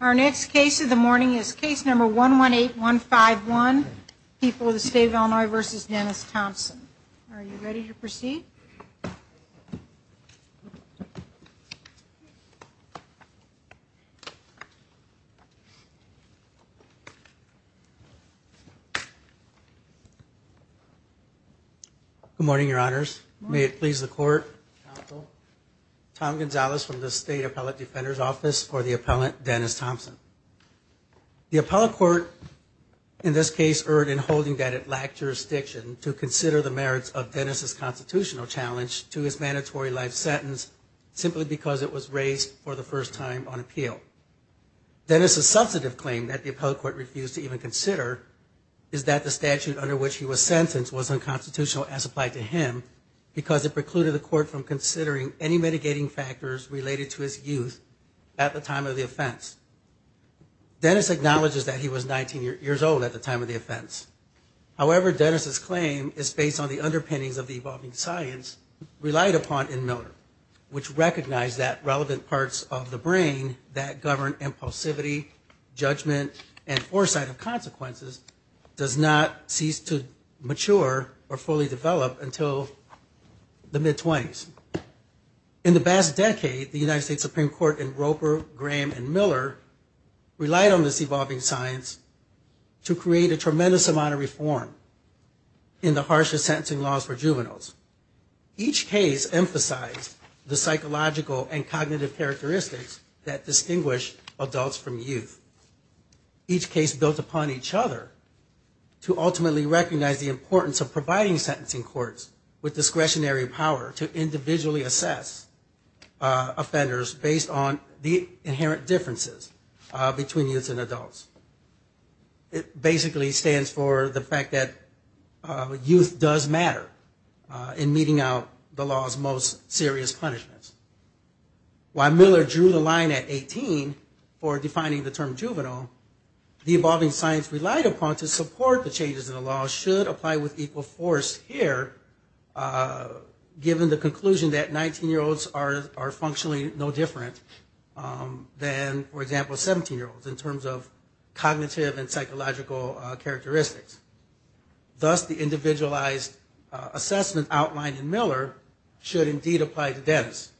Our next case of the morning is case number 118151, People of the State of Illinois v. Dennis Thompson. Are you ready to proceed? Good morning, your honors. May it please the court, counsel. Tom Gonzalez from the State Appellate Defender's Office for the appellant Dennis Thompson. The appellate court in this case erred in holding that it lacked jurisdiction to consider the merits of Dennis' constitutional challenge to his mandatory life sentence simply because it was raised for the first time on appeal. Dennis' substantive claim that the appellate court refused to even consider is that the statute under which he was sentenced was unconstitutional as applied to him because it precluded the court from considering any mitigating factors related to his youth at the time of the offense. Dennis acknowledges that he was 19 years old at the time of the offense. However, Dennis' claim is based on the underpinnings of the evolving science relied upon in Miller, which recognized that relevant parts of the brain that govern impulsivity, judgment, and foresight of consequences does not cease to mature or fully develop until the mid-20s. In the past decade, the United States Supreme Court in Roper, Graham, and Miller relied on this evolving science to create a tremendous amount of reform in the harshest sentencing laws for juveniles. Each case emphasized the psychological and cognitive characteristics that distinguish adults from youth. Each case built upon each other to ultimately recognize the importance of providing sentencing courts with discretionary power to individually assess offenders based on the inherent differences between youths and adults. It basically stands for the fact that youth does matter in meeting out the law's most serious punishments. While Miller drew the line at 18 for defining the term juvenile, the evolving science relied upon to support the changes in the law should apply with equal force here, given the conclusion that 19-year-olds are functionally no different than, for example, 17-year-olds in terms of cognitive and psychological characteristics. Thus, the individualized assessment outlined in Miller should indeed apply to dentists.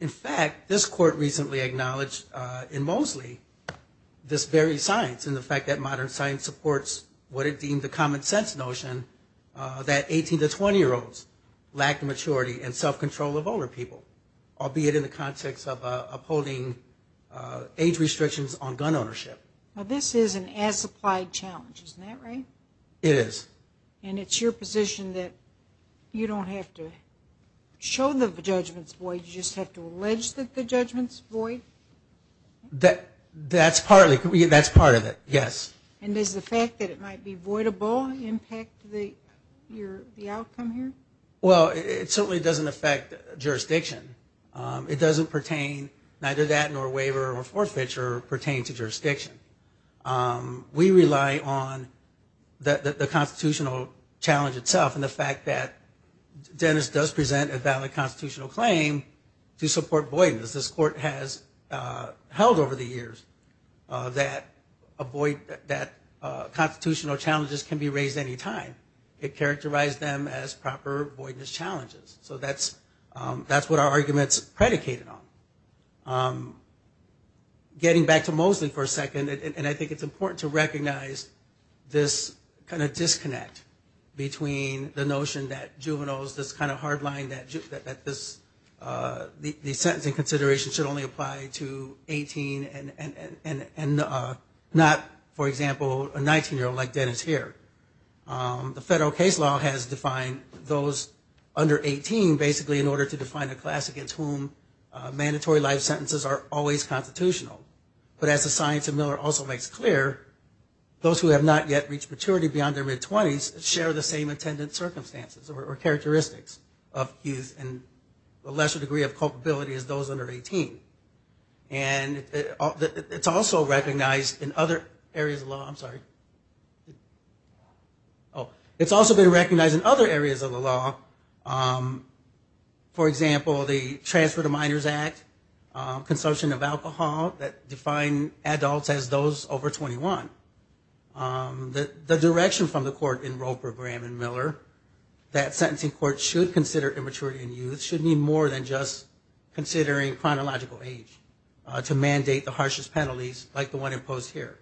In fact, this court recently acknowledged in Moseley this very science and the fact that modern science supports what it deemed the common-sense notion that 18- to 20-year-olds lack the maturity and self-control of older people, albeit in the context of upholding age This is an as-applied challenge, isn't that right? It is. And it's your position that you don't have to show the judgment's void, you just have to allege that the judgment's void? That's part of it, yes. And does the fact that it might be voidable impact the outcome here? Well, it certainly doesn't affect jurisdiction. It doesn't pertain, neither that nor waiver or forfeiture pertain to jurisdiction. We rely on the constitutional challenge itself and the fact that dentists does present a valid constitutional claim to support voidness. This court has held over the years that constitutional challenges can be raised any time. It characterized them as proper voidness challenges. So that's what our argument's predicated on. Getting back to Moseley for a second, and I think it's important to recognize this kind of disconnect between the notion that juveniles, this kind of hard line that the sentencing consideration should only apply to 18 and not, for example, a 19-year-old like Dennis here. The federal case law has defined those under 18 basically in order to define a class against whom mandatory life sentences are always constitutional. But as the science of Miller also makes clear, those who have not yet reached maturity beyond their mid-20s share the same intended circumstances or characteristics of youth and a lesser degree of culpability as those under 18. And it's also recognized in other areas of the law, for example, the Transfer to Minors Act, consumption of alcohol that define adults as those over 21. The direction from the court in Roper, Graham, and Miller, that sentencing court should consider immaturity in youth should mean more than just considering chronological age to mandate the harshest penalties like the one imposed here.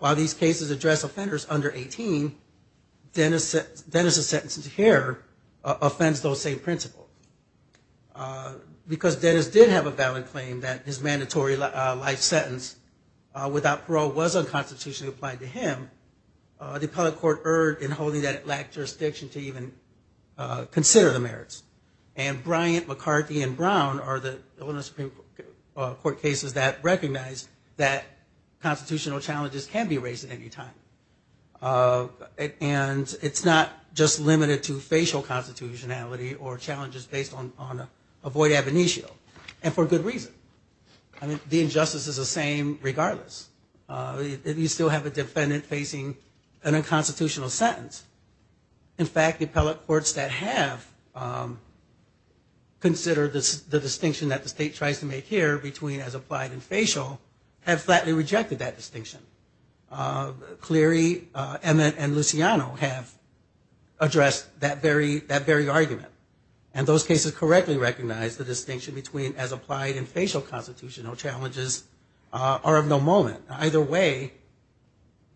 While these cases address offenders under 18, Dennis's sentence here offends those same principles. Because Dennis did have a valid claim that his mandatory life sentence without parole was unconstitutionally applied to him, the appellate court erred in holding that it lacked jurisdiction to even consider the merits. And Bryant, McCarthy, and Brown are the Illinois Supreme Court cases that recognize that constitutional challenges can be raised at any time. And it's not just limited to facial constitutionality or challenges based on avoid ab initio and for good reason. I mean, the injustice is the same regardless. You still have a defendant facing an unconstitutional sentence. In fact, appellate courts that have considered the distinction that the state tries to make here between as applied and facial have flatly rejected that distinction. Cleary, Emmett, and Luciano have addressed that very argument. And those cases correctly recognize the distinction between as applied and facial constitutional challenges are of no moment. Either way,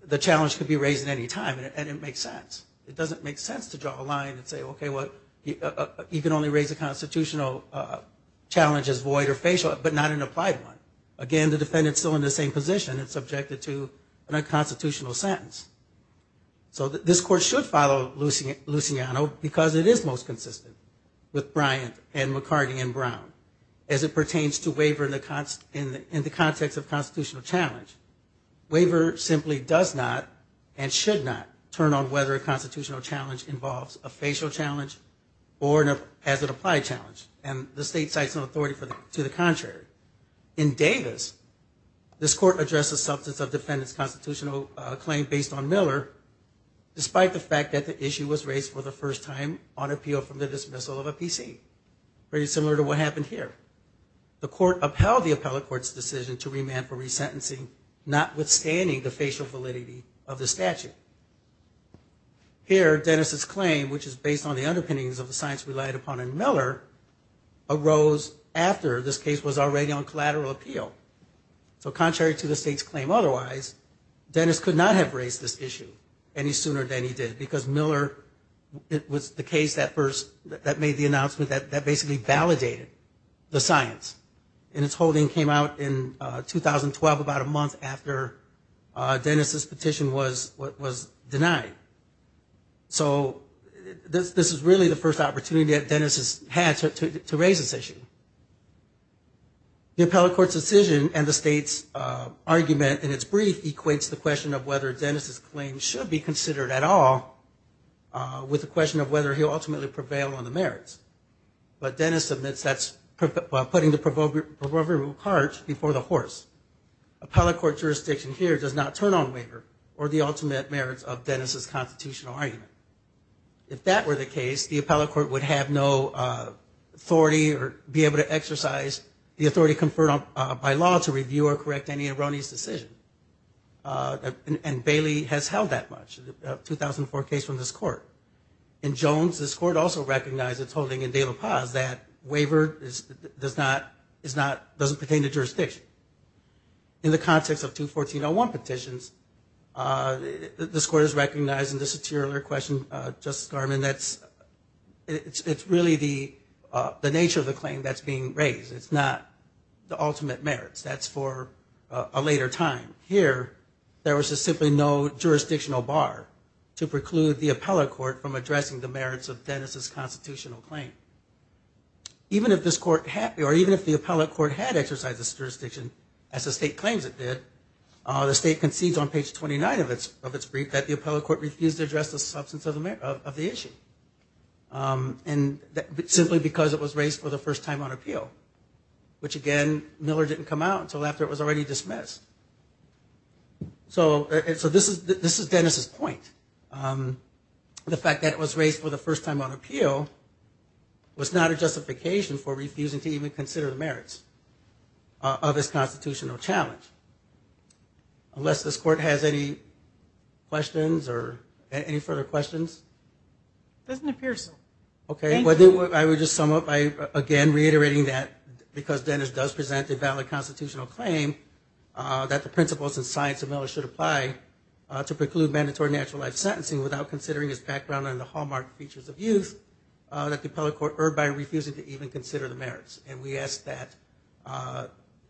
the challenge could be raised at any time and it makes sense. It doesn't make sense to draw a line and say, okay, you can only raise a constitutional challenge as void or facial but not an applied one. Again, the defendant is still in the same position. It's a constitutional challenge. It's a constitutional sentence. So this court should follow Luciano because it is most consistent with Bryant and McCarthy and Brown as it pertains to waiver in the context of constitutional challenge. Waiver simply does not and should not turn on whether a constitutional challenge involves a facial challenge or as an applied challenge. And the state cites no authority to the contrary. In Davis, this court addressed the substance of defendant's constitutional claim based on Miller despite the fact that the issue was raised for the first time on appeal from the dismissal of a PC. Very similar to what happened here. The court upheld the appellate court's decision to remand for resentencing notwithstanding the facial validity of the statute. Here, Dennis' claim, which is based on the underpinnings of the science relied upon in Miller, arose after this case was already on collateral appeal. So contrary to the state's claim otherwise, Dennis could not have raised this issue any sooner than he did because Miller was the case that made the announcement that basically validated the science. And its holding came out in 2012, about a month after Dennis' petition was denied. So this is really the first opportunity that Dennis has had to raise this issue. The appellate court's decision and the state's argument in its brief equates the question of whether Dennis' claim should be considered at all with the question of whether he'll ultimately prevail on the merits. But Dennis admits that's putting the proverbial cart before the horse. Appellate court jurisdiction here does not turn on waiver or the ultimate merits of Dennis' constitutional argument. If that were the case, the appellate court would have no authority or be able to exercise the authority conferred by law to review or correct any erroneous decision. And Bailey has held that much, a 2004 case from this court. In Jones, this court also recognized its holding in De La Paz that waiver doesn't pertain to jurisdiction. In the context of two 1401 petitions, this court has recognized in the satirical question, Justice Garman, that it's really the nature of the claim that's being raised. It's not the ultimate merits. That's for a later time. Here, there was simply no jurisdictional bar to preclude the appellate court from addressing the merits of Dennis' constitutional claim. Even if the appellate court had exercised this jurisdiction as the state claims it did, the state concedes on page 29 of its brief that the appellate court refused to address the substance of the issue. And simply because it was raised for the first time on appeal. Which again, Miller didn't come out until after it was already dismissed. So this is Dennis' point. The fact that it was raised for the first time on appeal was not a justification for refusing to even consider the merits of his constitutional challenge. Unless this court has any questions or any further questions? It doesn't appear so. Okay, I would just sum up by again reiterating that because Dennis does present a valid constitutional claim that the principles and science of Miller should apply to preclude mandatory natural life sentencing without considering his background and the hallmark features of youth that the appellate court erred by refusing to even consider the merits. And we ask that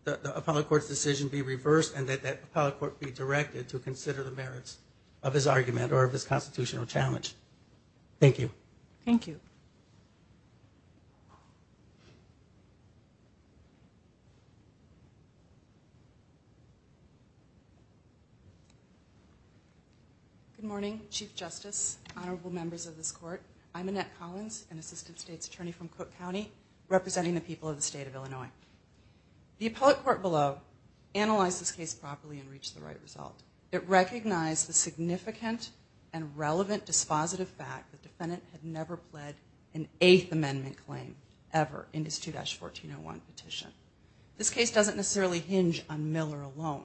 the appellate court's decision be reversed and that the appellate court be directed to consider the merits of his argument or of his constitutional challenge. Thank you. Good morning, Chief Justice, honorable members of this court. I'm Annette Collins, an Assistant State's Attorney from Cook County, representing the people of the state of Illinois. The appellate court below analyzed this case properly and reached the right result. It recognized the significant and relevant dispositive fact that the defendant had never pled an Eighth Amendment claim ever in his 2-1401 petition. This case doesn't necessarily hinge on Miller alone.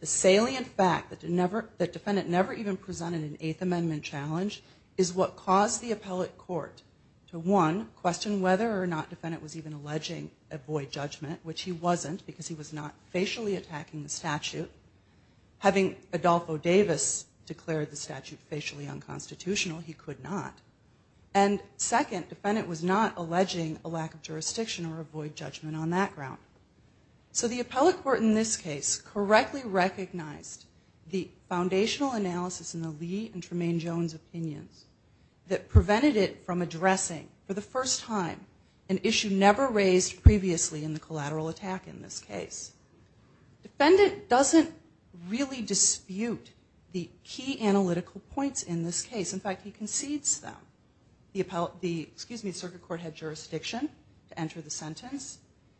The salient fact that the defendant never even presented an Eighth Amendment challenge is what caused the appellate court to, one, question whether or not the defendant was even alleging a void judgment, which he wasn't because he was not facially attacking the statute. Having Adolfo Davis declare the statute facially unconstitutional, he could not. And, second, the defendant was not alleging a lack of jurisdiction or a void judgment on that ground. So the appellate court in this case correctly recognized the foundational analysis in the Lee and Tremaine Jones opinions that prevented it from addressing, for the first time, an issue never raised previously in the collateral attack in this case. Defendant doesn't really dispute the key analytical points in this case. In fact, he concedes them. The circuit court had jurisdiction to enter the sentence.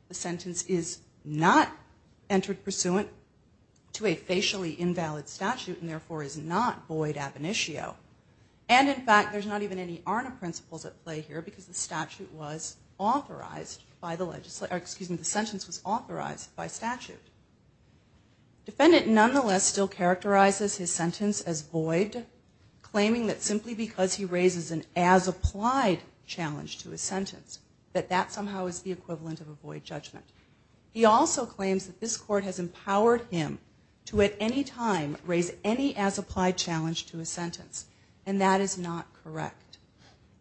The sentence is not entered pursuant to a facially invalid statute and, therefore, is not void ab initio. And, in fact, there's not even any ARNA principles at play here because the sentence was authorized by statute. Defendant, nonetheless, still characterizes his sentence as void, claiming that simply because he raises an as-appellate judgment on the statute, there is no void. He also claims that this court has empowered him to, at any time, raise any as-applied challenge to a sentence, and that is not correct.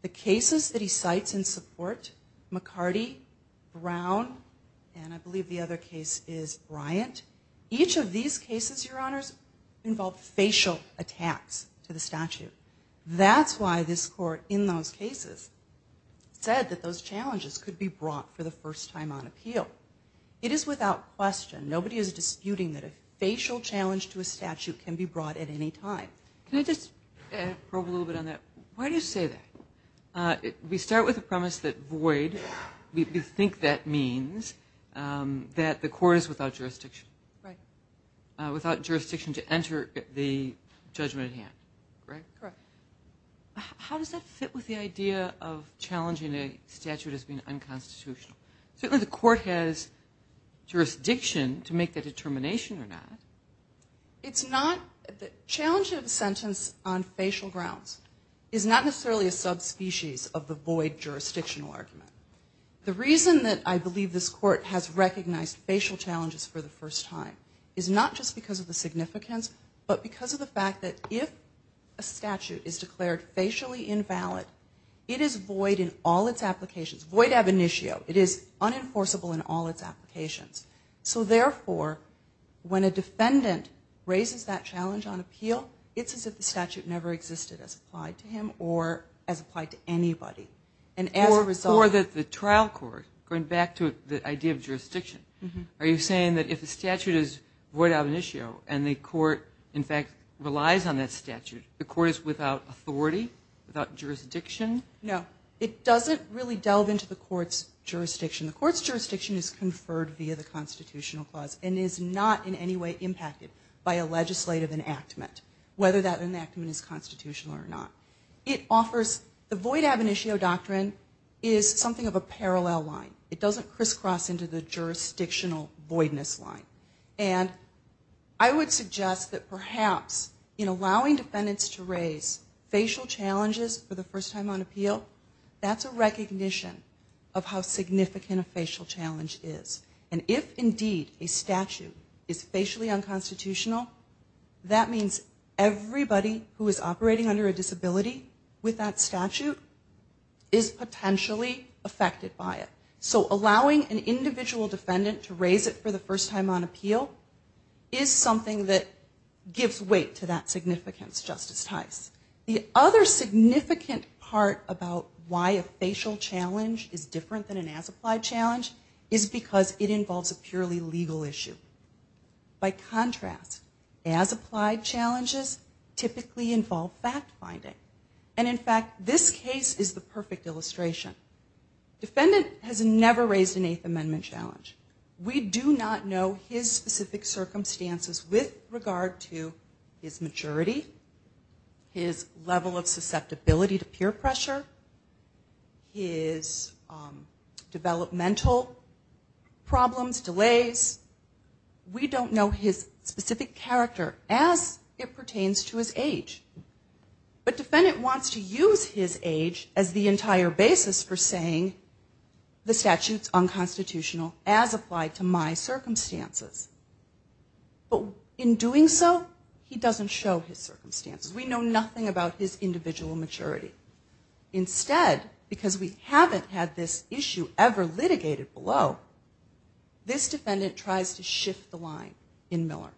The cases that he cites in support, McCarty, Brown, and I believe the other case is Bryant, each of these cases, Your Honors, involve facial attacks to the statute. That's why this court, in those cases, said that those challenges could be brought for the first time on appeal. It is without question, nobody is disputing that a facial challenge to a statute can be brought at any time. Can I just probe a little bit on that? Why do you say that? We start with the premise that void, we think that means that the court is without jurisdiction. Right. Without jurisdiction to enter the judgment at hand, right? Correct. How does that fit with the idea of challenging a statute as being unconstitutional? Certainly the court has jurisdiction to make that determination or not. The challenge of the sentence on facial grounds is not necessarily a subspecies of the void jurisdictional argument. The reason that I believe this court has recognized facial challenges for the first time is not just because of the significance, but because of the fact that if a statute is declared facially invalid, it is void in all its applications. Void ab initio. It is unenforceable in all its applications. So therefore, when a defendant raises that challenge on appeal, it's as if the statute never existed as applied to him or as applied to anybody. Or that the trial court, going back to the idea of jurisdiction, are you saying that if a statute is void ab initio and the court, in fact, relies on that statute, the court is without authority? Without jurisdiction? No. It doesn't really delve into the court's jurisdiction. The court's jurisdiction is conferred via the constitutional clause and is not in any way impacted by a legislative enactment, whether that enactment is constitutional or not. The void ab initio doctrine is something of a parallel line. It doesn't crisscross into the jurisdictional voidness line. And I would suggest that perhaps in allowing defendants to raise facial challenges for the first time on appeal, that's a recognition of how significant a facial challenge is. And if, indeed, a statute is void ab initio, then the liability with that statute is potentially affected by it. So allowing an individual defendant to raise it for the first time on appeal is something that gives weight to that significance, Justice Tice. The other significant part about why a facial challenge is different than an as-applied challenge is because it involves a purely legal issue. By contrast, as-applied challenges typically involve fact-finding. And, in fact, this case is the perfect illustration. Defendant has never raised an Eighth Amendment challenge. We do not know his specific circumstances with regard to his maturity, his level of susceptibility to peer pressure, his developmental problems, delays. We don't know his specific character as it pertains to his age. But Bennett wants to use his age as the entire basis for saying the statute is unconstitutional as applied to my circumstances. But in doing so, he doesn't show his circumstances. We know nothing about his individual maturity. Instead, because we haven't had this issue ever litigated below, this defendant tries to shift the line in Miller.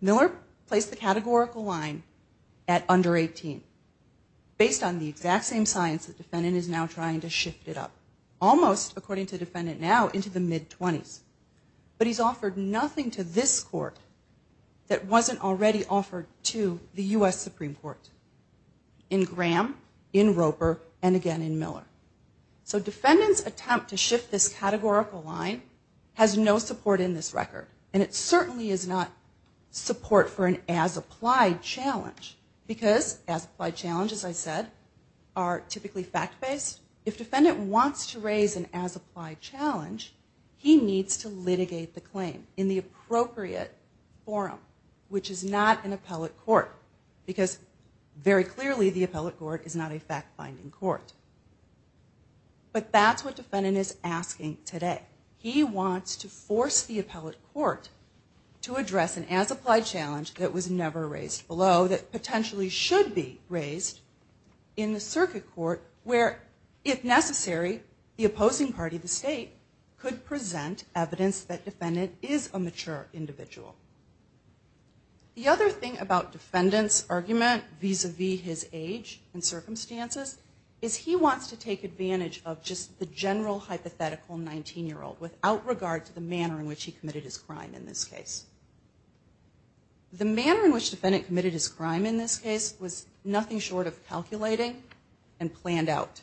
Miller placed the categorical line at under 18 based on the exact same science the defendant is now trying to shift it up. Almost, according to the defendant now, into the mid-20s. But he's offered nothing to this court that wasn't already offered to the U.S. Supreme Court in Graham, in Roper, and again in Miller. So defendant's attempt to shift this categorical line has no support in this record. And it certainly is not support for the U.S. Supreme Court. It certainly is not support for the U.S. Supreme Court. But it certainly is not support for an as-applied challenge. Because as-applied challenges, as I said, are typically fact-based. If defendant wants to raise an as-applied challenge, he needs to litigate the claim in the appropriate forum, which is not an appellate court. Because very clearly the appellate court is not a fact-finding court. But that's what defendant is asking today. He wants to force the appellate court to address an as-applied challenge that was never raised below that potentially should be raised in the circuit court where, if necessary, the opposing party, the state, could present evidence that defendant is a mature individual. The other thing about defendant's argument vis-a-vis his age and circumstances is he wants to take advantage of just the general hypothetical 19-year-old without regard to the manner in which he committed his case. The manner in which defendant committed his crime in this case was nothing short of calculating and planned out.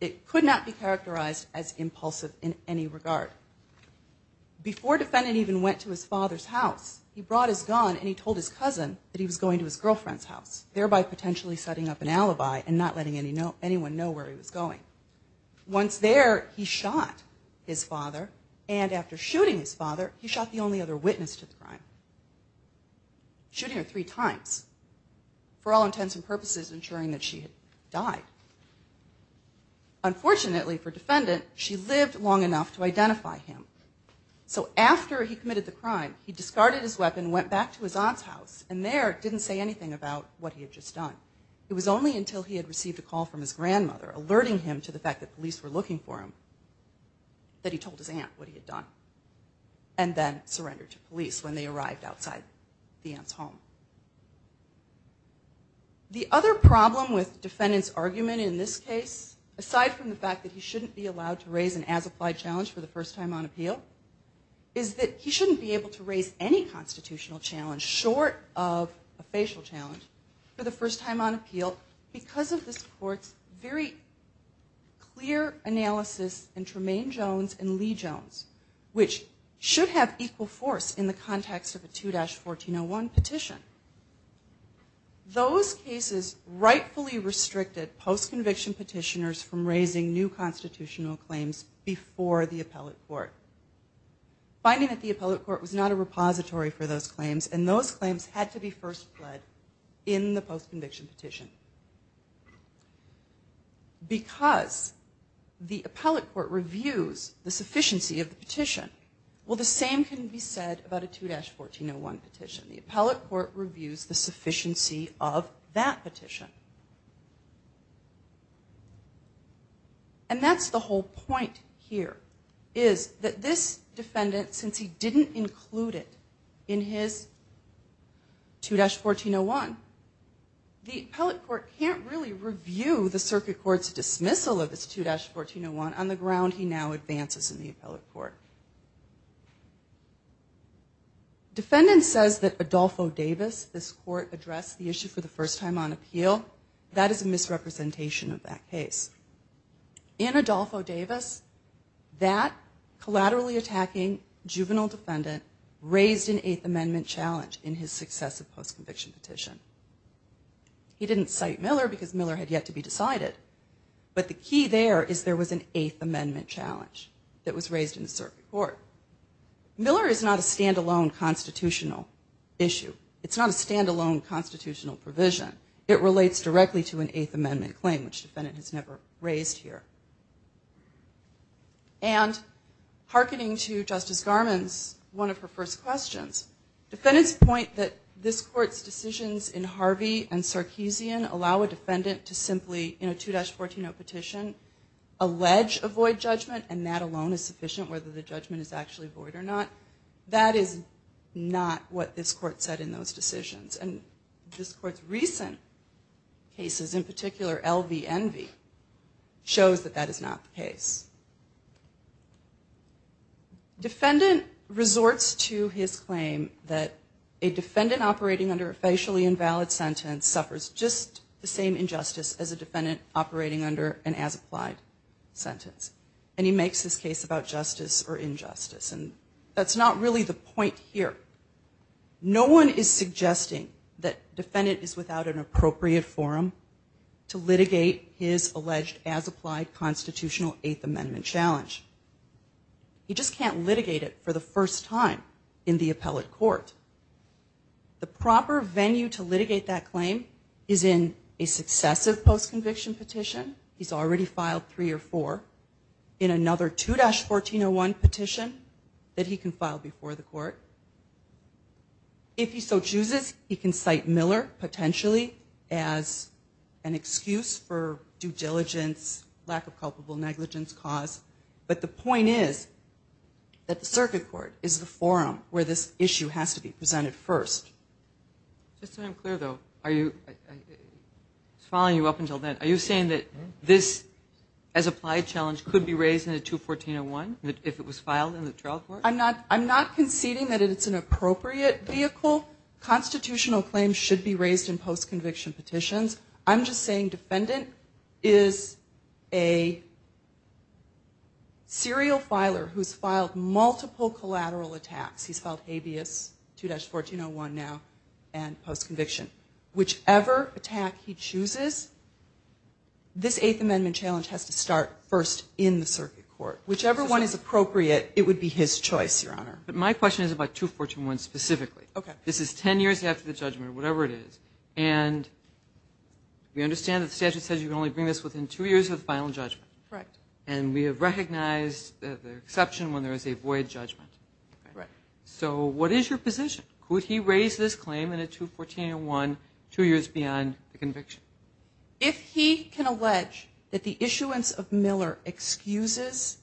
It could not be characterized as impulsive in any regard. Before defendant even went to his father's house, he brought his gun and he told his cousin that he was going to his girlfriend's house, thereby potentially setting up an alibi and not letting anyone know where he was going. Once there, he shot the only other witness to the crime, shooting her three times for all intents and purposes, ensuring that she had died. Unfortunately for defendant, she lived long enough to identify him. So after he committed the crime, he discarded his weapon, went back to his aunt's house, and there didn't say anything about what he had just done. It was only until he had received a call from his grandmother alerting him to the fact that police were looking for him that he told his aunt what he had done. And then he went back to his aunt's house and then surrendered to police when they arrived outside the aunt's home. The other problem with defendant's argument in this case, aside from the fact that he shouldn't be allowed to raise an as-applied challenge for the first time on appeal, is that he shouldn't be able to raise any constitutional challenge short of a facial challenge for the first time on appeal because of this court's very clear analysis in the context of a 2-1401 petition. Those cases rightfully restricted post-conviction petitioners from raising new constitutional claims before the appellate court. Finding that the appellate court was not a repository for those claims, and those claims had to be first pled in the post-conviction petition. Because the appellate court reviews the sufficiency of the petition, will the same conviction be said about a 2-1401 petition? The appellate court reviews the sufficiency of that petition. And that's the whole point here, is that this defendant, since he didn't include it in his 2-1401, the appellate court can't really review the circuit court's dismissal of this 2-1401 on the ground he now advances in the appellate court. And that's the whole point of this case. Defendant says that Adolfo Davis, this court, addressed the issue for the first time on appeal. That is a misrepresentation of that case. In Adolfo Davis, that collaterally attacking juvenile defendant raised an Eighth Amendment challenge in his successive post-conviction petition. He didn't cite Miller because Miller had yet to be decided. But the key there is there was an Eighth Amendment challenge that was raised in the circuit court. Miller is not a stand-alone constitutional issue. It's not a stand-alone constitutional provision. It relates directly to an Eighth Amendment claim, which the defendant has never raised here. And hearkening to Justice Garmon's, one of her first questions, defendants point that this court's decisions in Harvey and Sarkeesian allow a defendant to make a judgment and that alone is sufficient whether the judgment is actually void or not. That is not what this court said in those decisions. And this court's recent cases, in particular L.V. Envy, shows that that is not the case. Defendant resorts to his claim that a defendant operating under a facially invalid sentence suffers just the same injustice as a defendant operating under an as-applied sentence. And he makes this case about justice or injustice. And that's not really the point here. No one is suggesting that defendant is without an appropriate forum to litigate his alleged as-applied constitutional Eighth Amendment challenge. He just can't litigate it for the first time in the appellate court. The proper venue to litigate that claim is in a successive post-conviction petition. He's already filed three or four. In another 2-1401 petition that he can file before the court. If he so chooses, he can cite Miller potentially as an excuse for due diligence, lack of culpable negligence cause. But the point is that the circuit court is the forum where this issue has to be presented first. Just so I'm clear though, I was following you up until then. Are you saying that this as-applied challenge could be raised in a 2-1401 if it was filed in the trial court? I'm not conceding that it's an appropriate vehicle. Constitutional claims should be raised in post-conviction petitions. I'm just saying defendant is a serial filer who's filed multiple collateral attacks. He's a serial filer. But he should be brought forth for trial and post-conviction. Whichever attack he chooses, this Eighth Amendment challenge has to start first in the circuit court. Whichever one is appropriate, it would be his choice, Your Honor. But my question is about 2-1401 specifically. This is ten years after the judgment, whatever it is. We understand that the statute says you can only bring this within two years of the final judgment. And we have recognized the exception when there is a position. Could he raise this claim in a 2-1401 two years beyond the conviction? If he can allege that the issuance of Miller excuses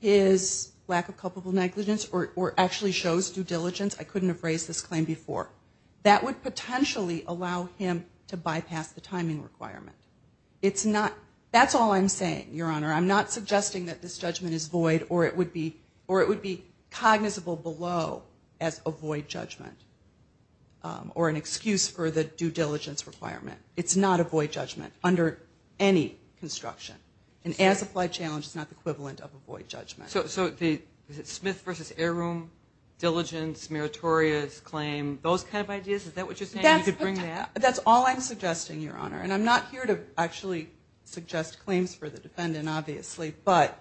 his lack of culpable negligence or actually shows due diligence, I couldn't have raised this claim before. That would potentially allow him to bypass the timing requirement. That's all I'm saying, Your Honor. I'm not suggesting that this judgment is avoid judgment or an excuse for the due diligence requirement. It's not avoid judgment under any construction. An as-applied challenge is not the equivalent of avoid judgment. So the Smith v. Air Room, diligence, meritorious claim, those kind of ideas, is that what you're saying? You could bring that? That's all I'm suggesting, Your Honor. And I'm not here to actually suggest claims for the defendant, obviously. But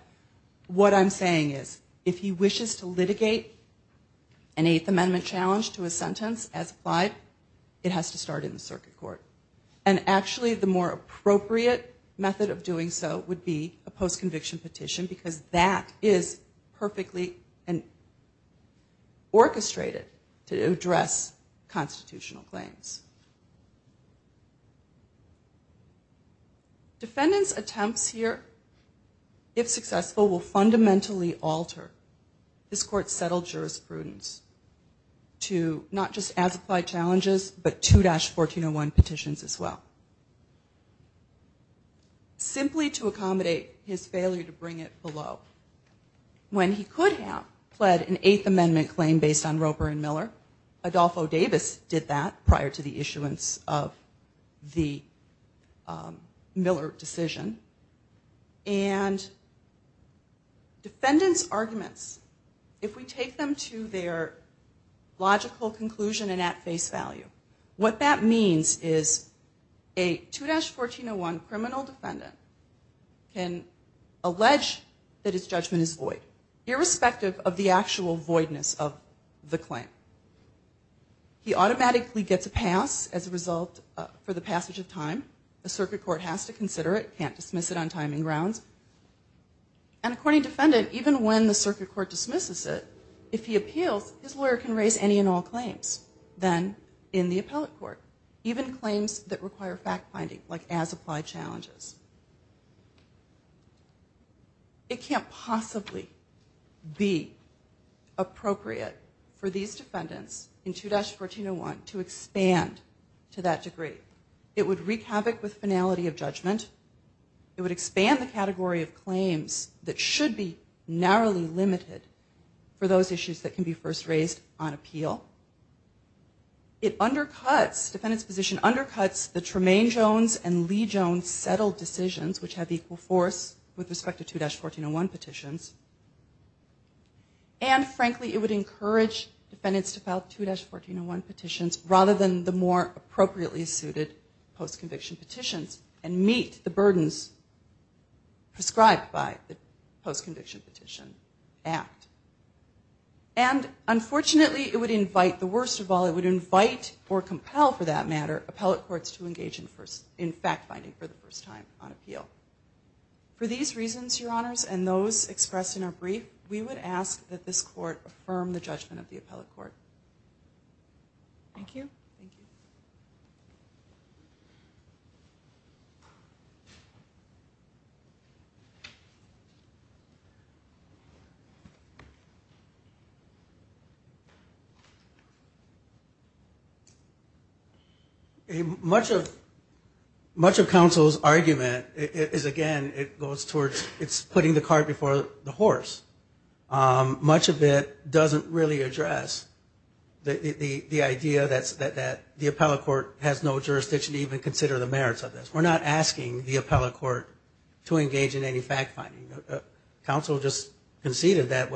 what I'm saying is that if a defendant wishes to litigate an Eighth Amendment challenge to a sentence as applied, it has to start in the circuit court. And actually the more appropriate method of doing so would be a post-conviction petition because that is perfectly orchestrated to address constitutional claims. Defendant's attempts here, if successful, will fundamentally alter the court's settled jurisprudence to not just as-applied challenges, but 2-1401 petitions as well. Simply to accommodate his failure to bring it below. When he could have pled an Eighth Amendment claim based on Roper and Miller, Adolfo Davis did that prior to the issuance of the Miller decision. And defendant's arguments, if successful, will fundamentally alter the court's judgment. If we take them to their logical conclusion and at face value, what that means is a 2-1401 criminal defendant can allege that his judgment is void, irrespective of the actual voidness of the claim. He automatically gets a pass as a result for the passage of time. The circuit court has to consider it, can't dismiss it on timing grounds. And according to defendant, even when the defendant dismisses it, if he appeals, his lawyer can raise any and all claims then in the appellate court. Even claims that require fact-finding, like as-applied challenges. It can't possibly be appropriate for these defendants in 2-1401 to expand to that degree. It would wreak havoc with finality of judgment. It would expand the category of claims that should be narrowly limited to those issues that can be first raised on appeal. It undercuts, defendant's position undercuts the Tremaine Jones and Lee Jones settled decisions which have equal force with respect to 2-1401 petitions. And frankly, it would encourage defendants to file 2-1401 petitions rather than the more appropriately suited post-conviction petitions and meet the burdens prescribed by the Tremaine Jones. And unfortunately, it would invite, the worst of all, it would invite or compel for that matter, appellate courts to engage in fact-finding for the first time on appeal. For these reasons, your honors, and those expressed in our brief, we would ask that this court affirm the judgment of the appellate court. Thank you. Much of counsel's argument is again, it goes towards, it's putting the cart before the horse. Much of it doesn't really address the idea that the appellate court has no jurisdiction to even consider the merits of this. We're not asking the appellate court to engage in any fact-finding. Counsel just conceded that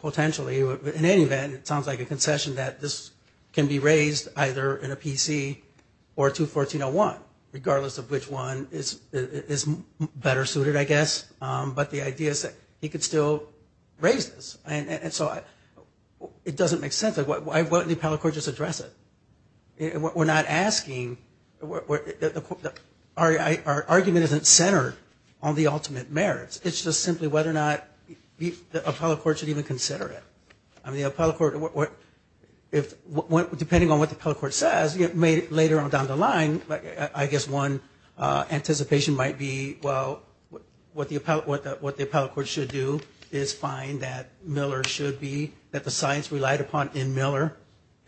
potentially, in any event, it sounds like a concession that this can be raised either in a PC or 2-1401, regardless of which one is better suited, I guess. But the idea is that he could still raise this. And so it doesn't make sense. Why wouldn't the appellate court just address it? We're not asking, our argument isn't centered on the ultimate merit. It's just simply whether or not the appellate court should even consider it. I mean, the appellate court, depending on what the appellate court says, later on down the line, I guess one anticipation might be, well, what the appellate court should do is find that Miller should be, that the science relied upon in Miller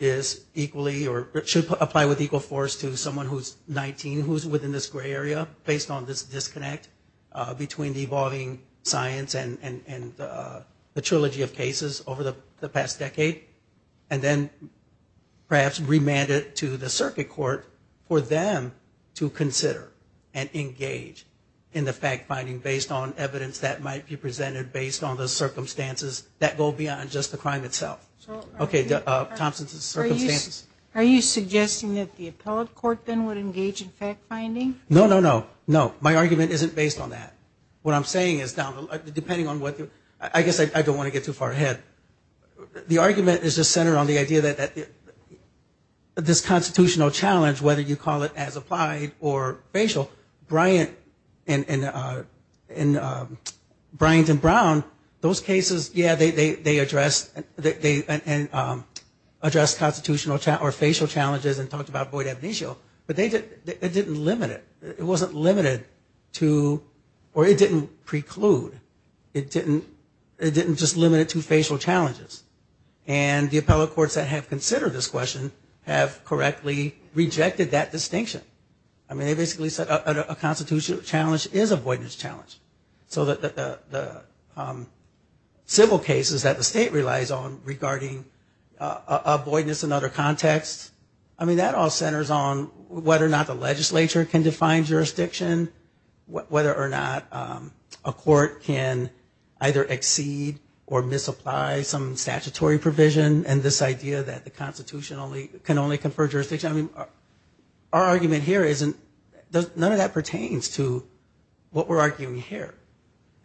is equally, or should apply with equal force to someone who's 19 who's within this disconnect between the evolving science and the trilogy of cases over the past decade. And then perhaps remand it to the circuit court for them to consider and engage in the fact-finding based on evidence that might be presented based on the circumstances that go beyond just the crime itself. Okay, Thompson's circumstances. Are you suggesting that the appellate court then would engage in fact-finding? No, no, no, no. My argument isn't based on that. What I'm saying is, depending on what, I guess I don't want to get too far ahead. The argument is just centered on the idea that this constitutional challenge, whether you call it as applied or facial, Bryant and Bryant and Brown, those cases, yeah, they addressed constitutional or facial challenges and talked about void ab initio, but it didn't limit it. It wasn't limited to, or it didn't preclude, it didn't just limit it to facial challenges. And the appellate courts that have considered this question have correctly rejected that distinction. I mean, they basically said a constitutional challenge is a voidness challenge. So the civil cases that the state relies on regarding voidness in other contexts, I mean, that all centers on whether or not the legislature can define jurisdiction, whether or not a court can either exceed or misapply some statutory provision, and this idea that the Constitution can only confer jurisdiction. I mean, our argument here isn't, none of that pertains to what we're arguing here.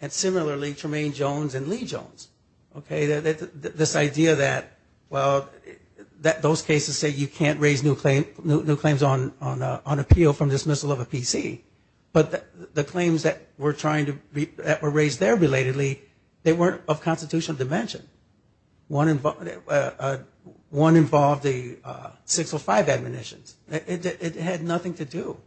And similarly, Tremaine Jones and Lee Jones, okay, this idea that, well, those cases say you can't raise new claims on appeal from dismissal of a PC, but the claims that were raised there relatedly, they weren't of constitutional dimension. One involved the six or five admonitions. It had nothing to do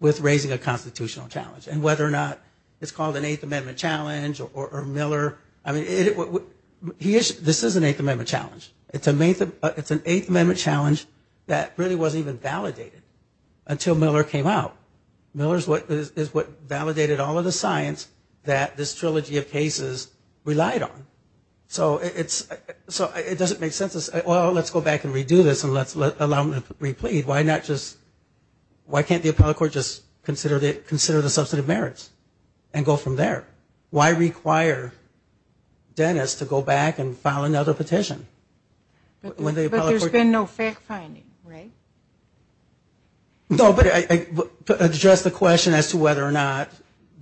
with raising a constitutional challenge. And whether or not it's called an Eighth Amendment challenge or Miller, I mean, this is an Eighth Amendment challenge. It's an Eighth Amendment challenge that really wasn't even thought about. Miller is what validated all of the science that this trilogy of cases relied on. So it doesn't make sense to say, well, let's go back and redo this and let's allow them to replead. Why not just, why can't the appellate court just consider the substantive merits and go from there? Why require Dennis to go back and file another petition when the appellate court says, well, there's been no fact-finding, right? No, but address the question as to whether or not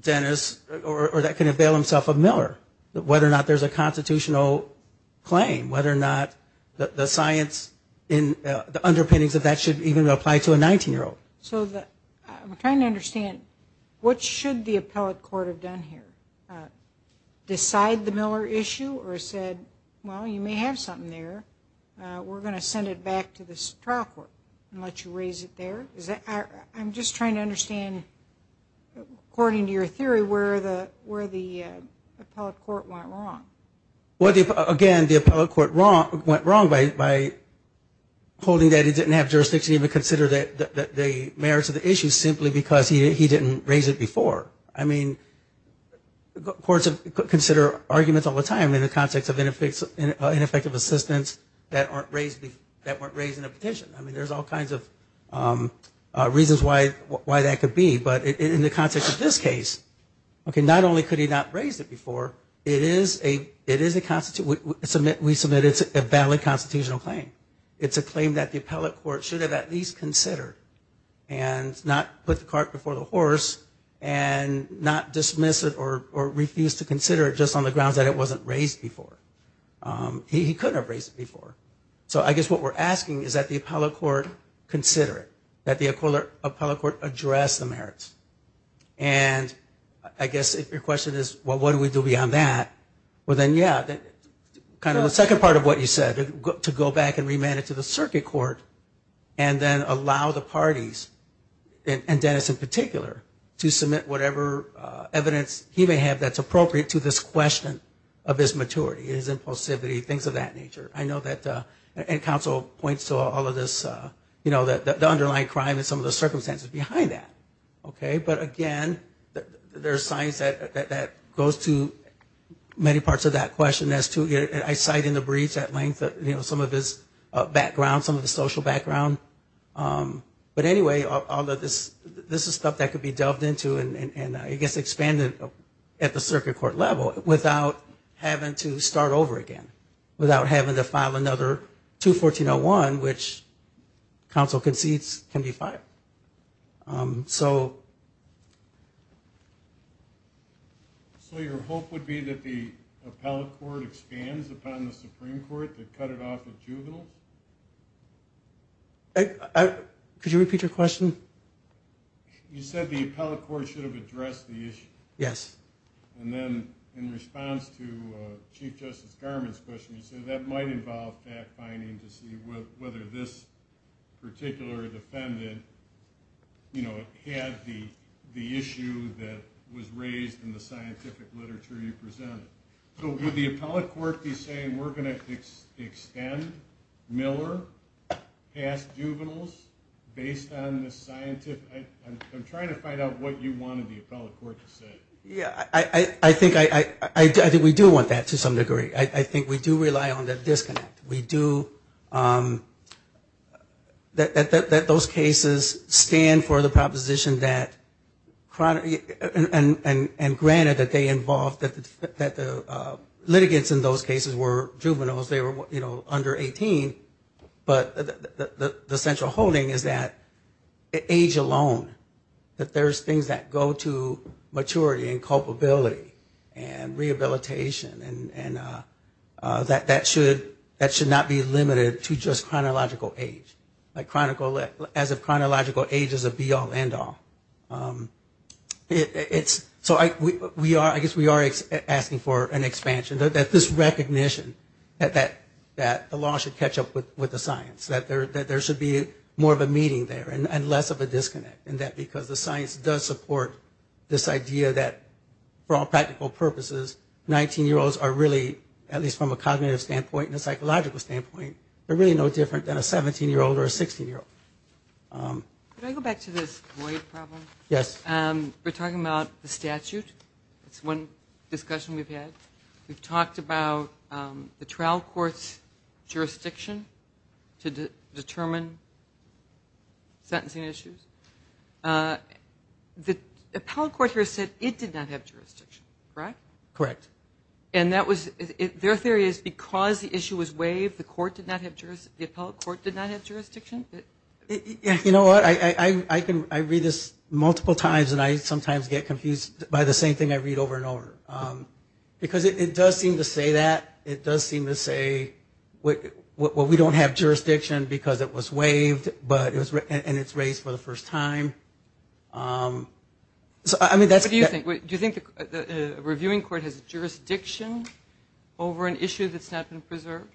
Dennis, or that could avail himself of Miller, whether or not there's a constitutional claim, whether or not the science, the underpinnings of that should even apply to a 19-year-old. So I'm trying to understand, what should the appellate court have done here? Decide the Miller issue or said, well, you may have something there. We're going to send it back to the trial court and let you raise it there. Is that, I'm just trying to understand, according to your theory, where the appellate court went wrong. Well, again, the appellate court went wrong by holding that he didn't have jurisdiction to even consider the merits of the issue simply because he didn't raise it before. I mean, courts consider arguments all the time in the context of ineffective assistance that weren't raised in a petition. I mean, there's all kinds of reasons why that could be. But in the context of this case, not only could he not raise it before, it is a, we submit it's a valid constitutional claim. It's a claim that the appellate court should have at least considered and not put the cart before the horse and not dismiss it or refuse to consider it just on the grounds that it wasn't raised before. He couldn't have raised it before. So I guess what we're asking is that the appellate court consider it, that the appellate court address the merits. And I guess if your question is, well, what do we do beyond that? Well, then, yeah, kind of the second part of what you said, to go back and remand it to the circuit court and then allow the parties, and Dennis in particular, to submit whatever evidence he may have that's appropriate to this question of his maturity. His impulsivity, things of that nature. I know that, and counsel points to all of this, you know, the underlying crime and some of the circumstances behind that. Okay? But again, there's signs that that goes to many parts of that question as to, I cite in the brief at length, you know, some of his background, some of his social background. But anyway, all of this, this is stuff that could be delved into and I guess expanded at the circuit court level without having to start over again. Without having to file another 214-01, which counsel concedes can be filed. So... So your hope would be that the appellate court expands upon the Supreme Court to cut it off with juveniles? Could you repeat your question? You said the appellate court should have addressed the issue. Yes. And then in response to Chief Justice Garmon's question, you said that might involve fact-finding to see whether this particular defendant, you know, had the issue that was raised in the scientific literature you presented. So would the appellate court be saying we're going to extend Miller past juveniles based on the scientific... I'm trying to find out what you wanted the appellate court to say. Yeah, I think we do want that to some degree. I think we do rely on the disconnect. We do, that those cases stand for the proposition that, and granted that they involve, that the litigants in those cases were juveniles, they were, you know, under 18, but the central holding is that age alone is not enough. It's not enough to be a juvenile. It's not enough to be a juvenile alone, that there's things that go to maturity and culpability and rehabilitation, and that should not be limited to just chronological age, as if chronological age is a be-all, end-all. So I guess we are asking for an expansion, that this recognition that the law should catch up with the science, that there should be more of a meeting there and less of a disconnect, and that because the science does support this idea that for all practical purposes, 19-year-olds are really, at least from a cognitive standpoint and a psychological standpoint, they're really no different than a 17-year-old or a 16-year-old. Can I go back to this void problem? Yes. We're talking about the statute. That's one discussion we've had. We've talked about the trial court's jurisdiction to determine sentencing issues. The appellate court here said it did not have jurisdiction, correct? Correct. And their theory is because the issue was waived, the appellate court did not have jurisdiction? Sometimes, and I sometimes get confused by the same thing I read over and over. Because it does seem to say that. It does seem to say, well, we don't have jurisdiction because it was waived, and it's raised for the first time. What do you think? Do you think the reviewing court has jurisdiction over an issue that's not been preserved?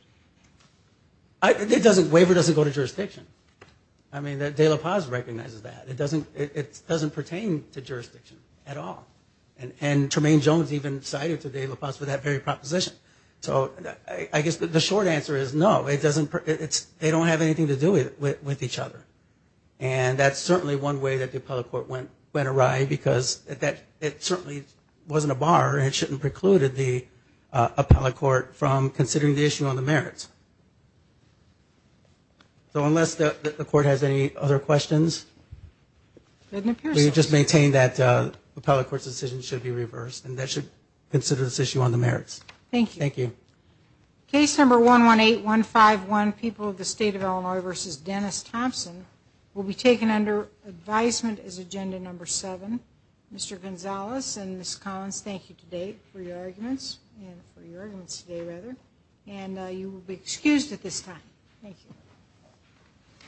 Waiver doesn't go to jurisdiction. I mean, De La Paz recognizes that. It doesn't pertain to the issue of jurisdiction at all. And Tremaine Jones even cited De La Paz for that very proposition. So I guess the short answer is no. They don't have anything to do with each other. And that's certainly one way that the appellate court went awry, because it certainly wasn't a bar, and it shouldn't precluded the appellate court from considering the issue on the merits. So unless the court has any other questions, we just maintain that the appellate court's decision should be reversed. And that should consider this issue on the merits. Thank you. Case number 118151, People of the State of Illinois v. Dennis Thompson, will be taken under advisement as agenda number seven. Mr. Gonzalez and Ms. Collins, thank you for your arguments today. And you will be excused at this time. Thank you.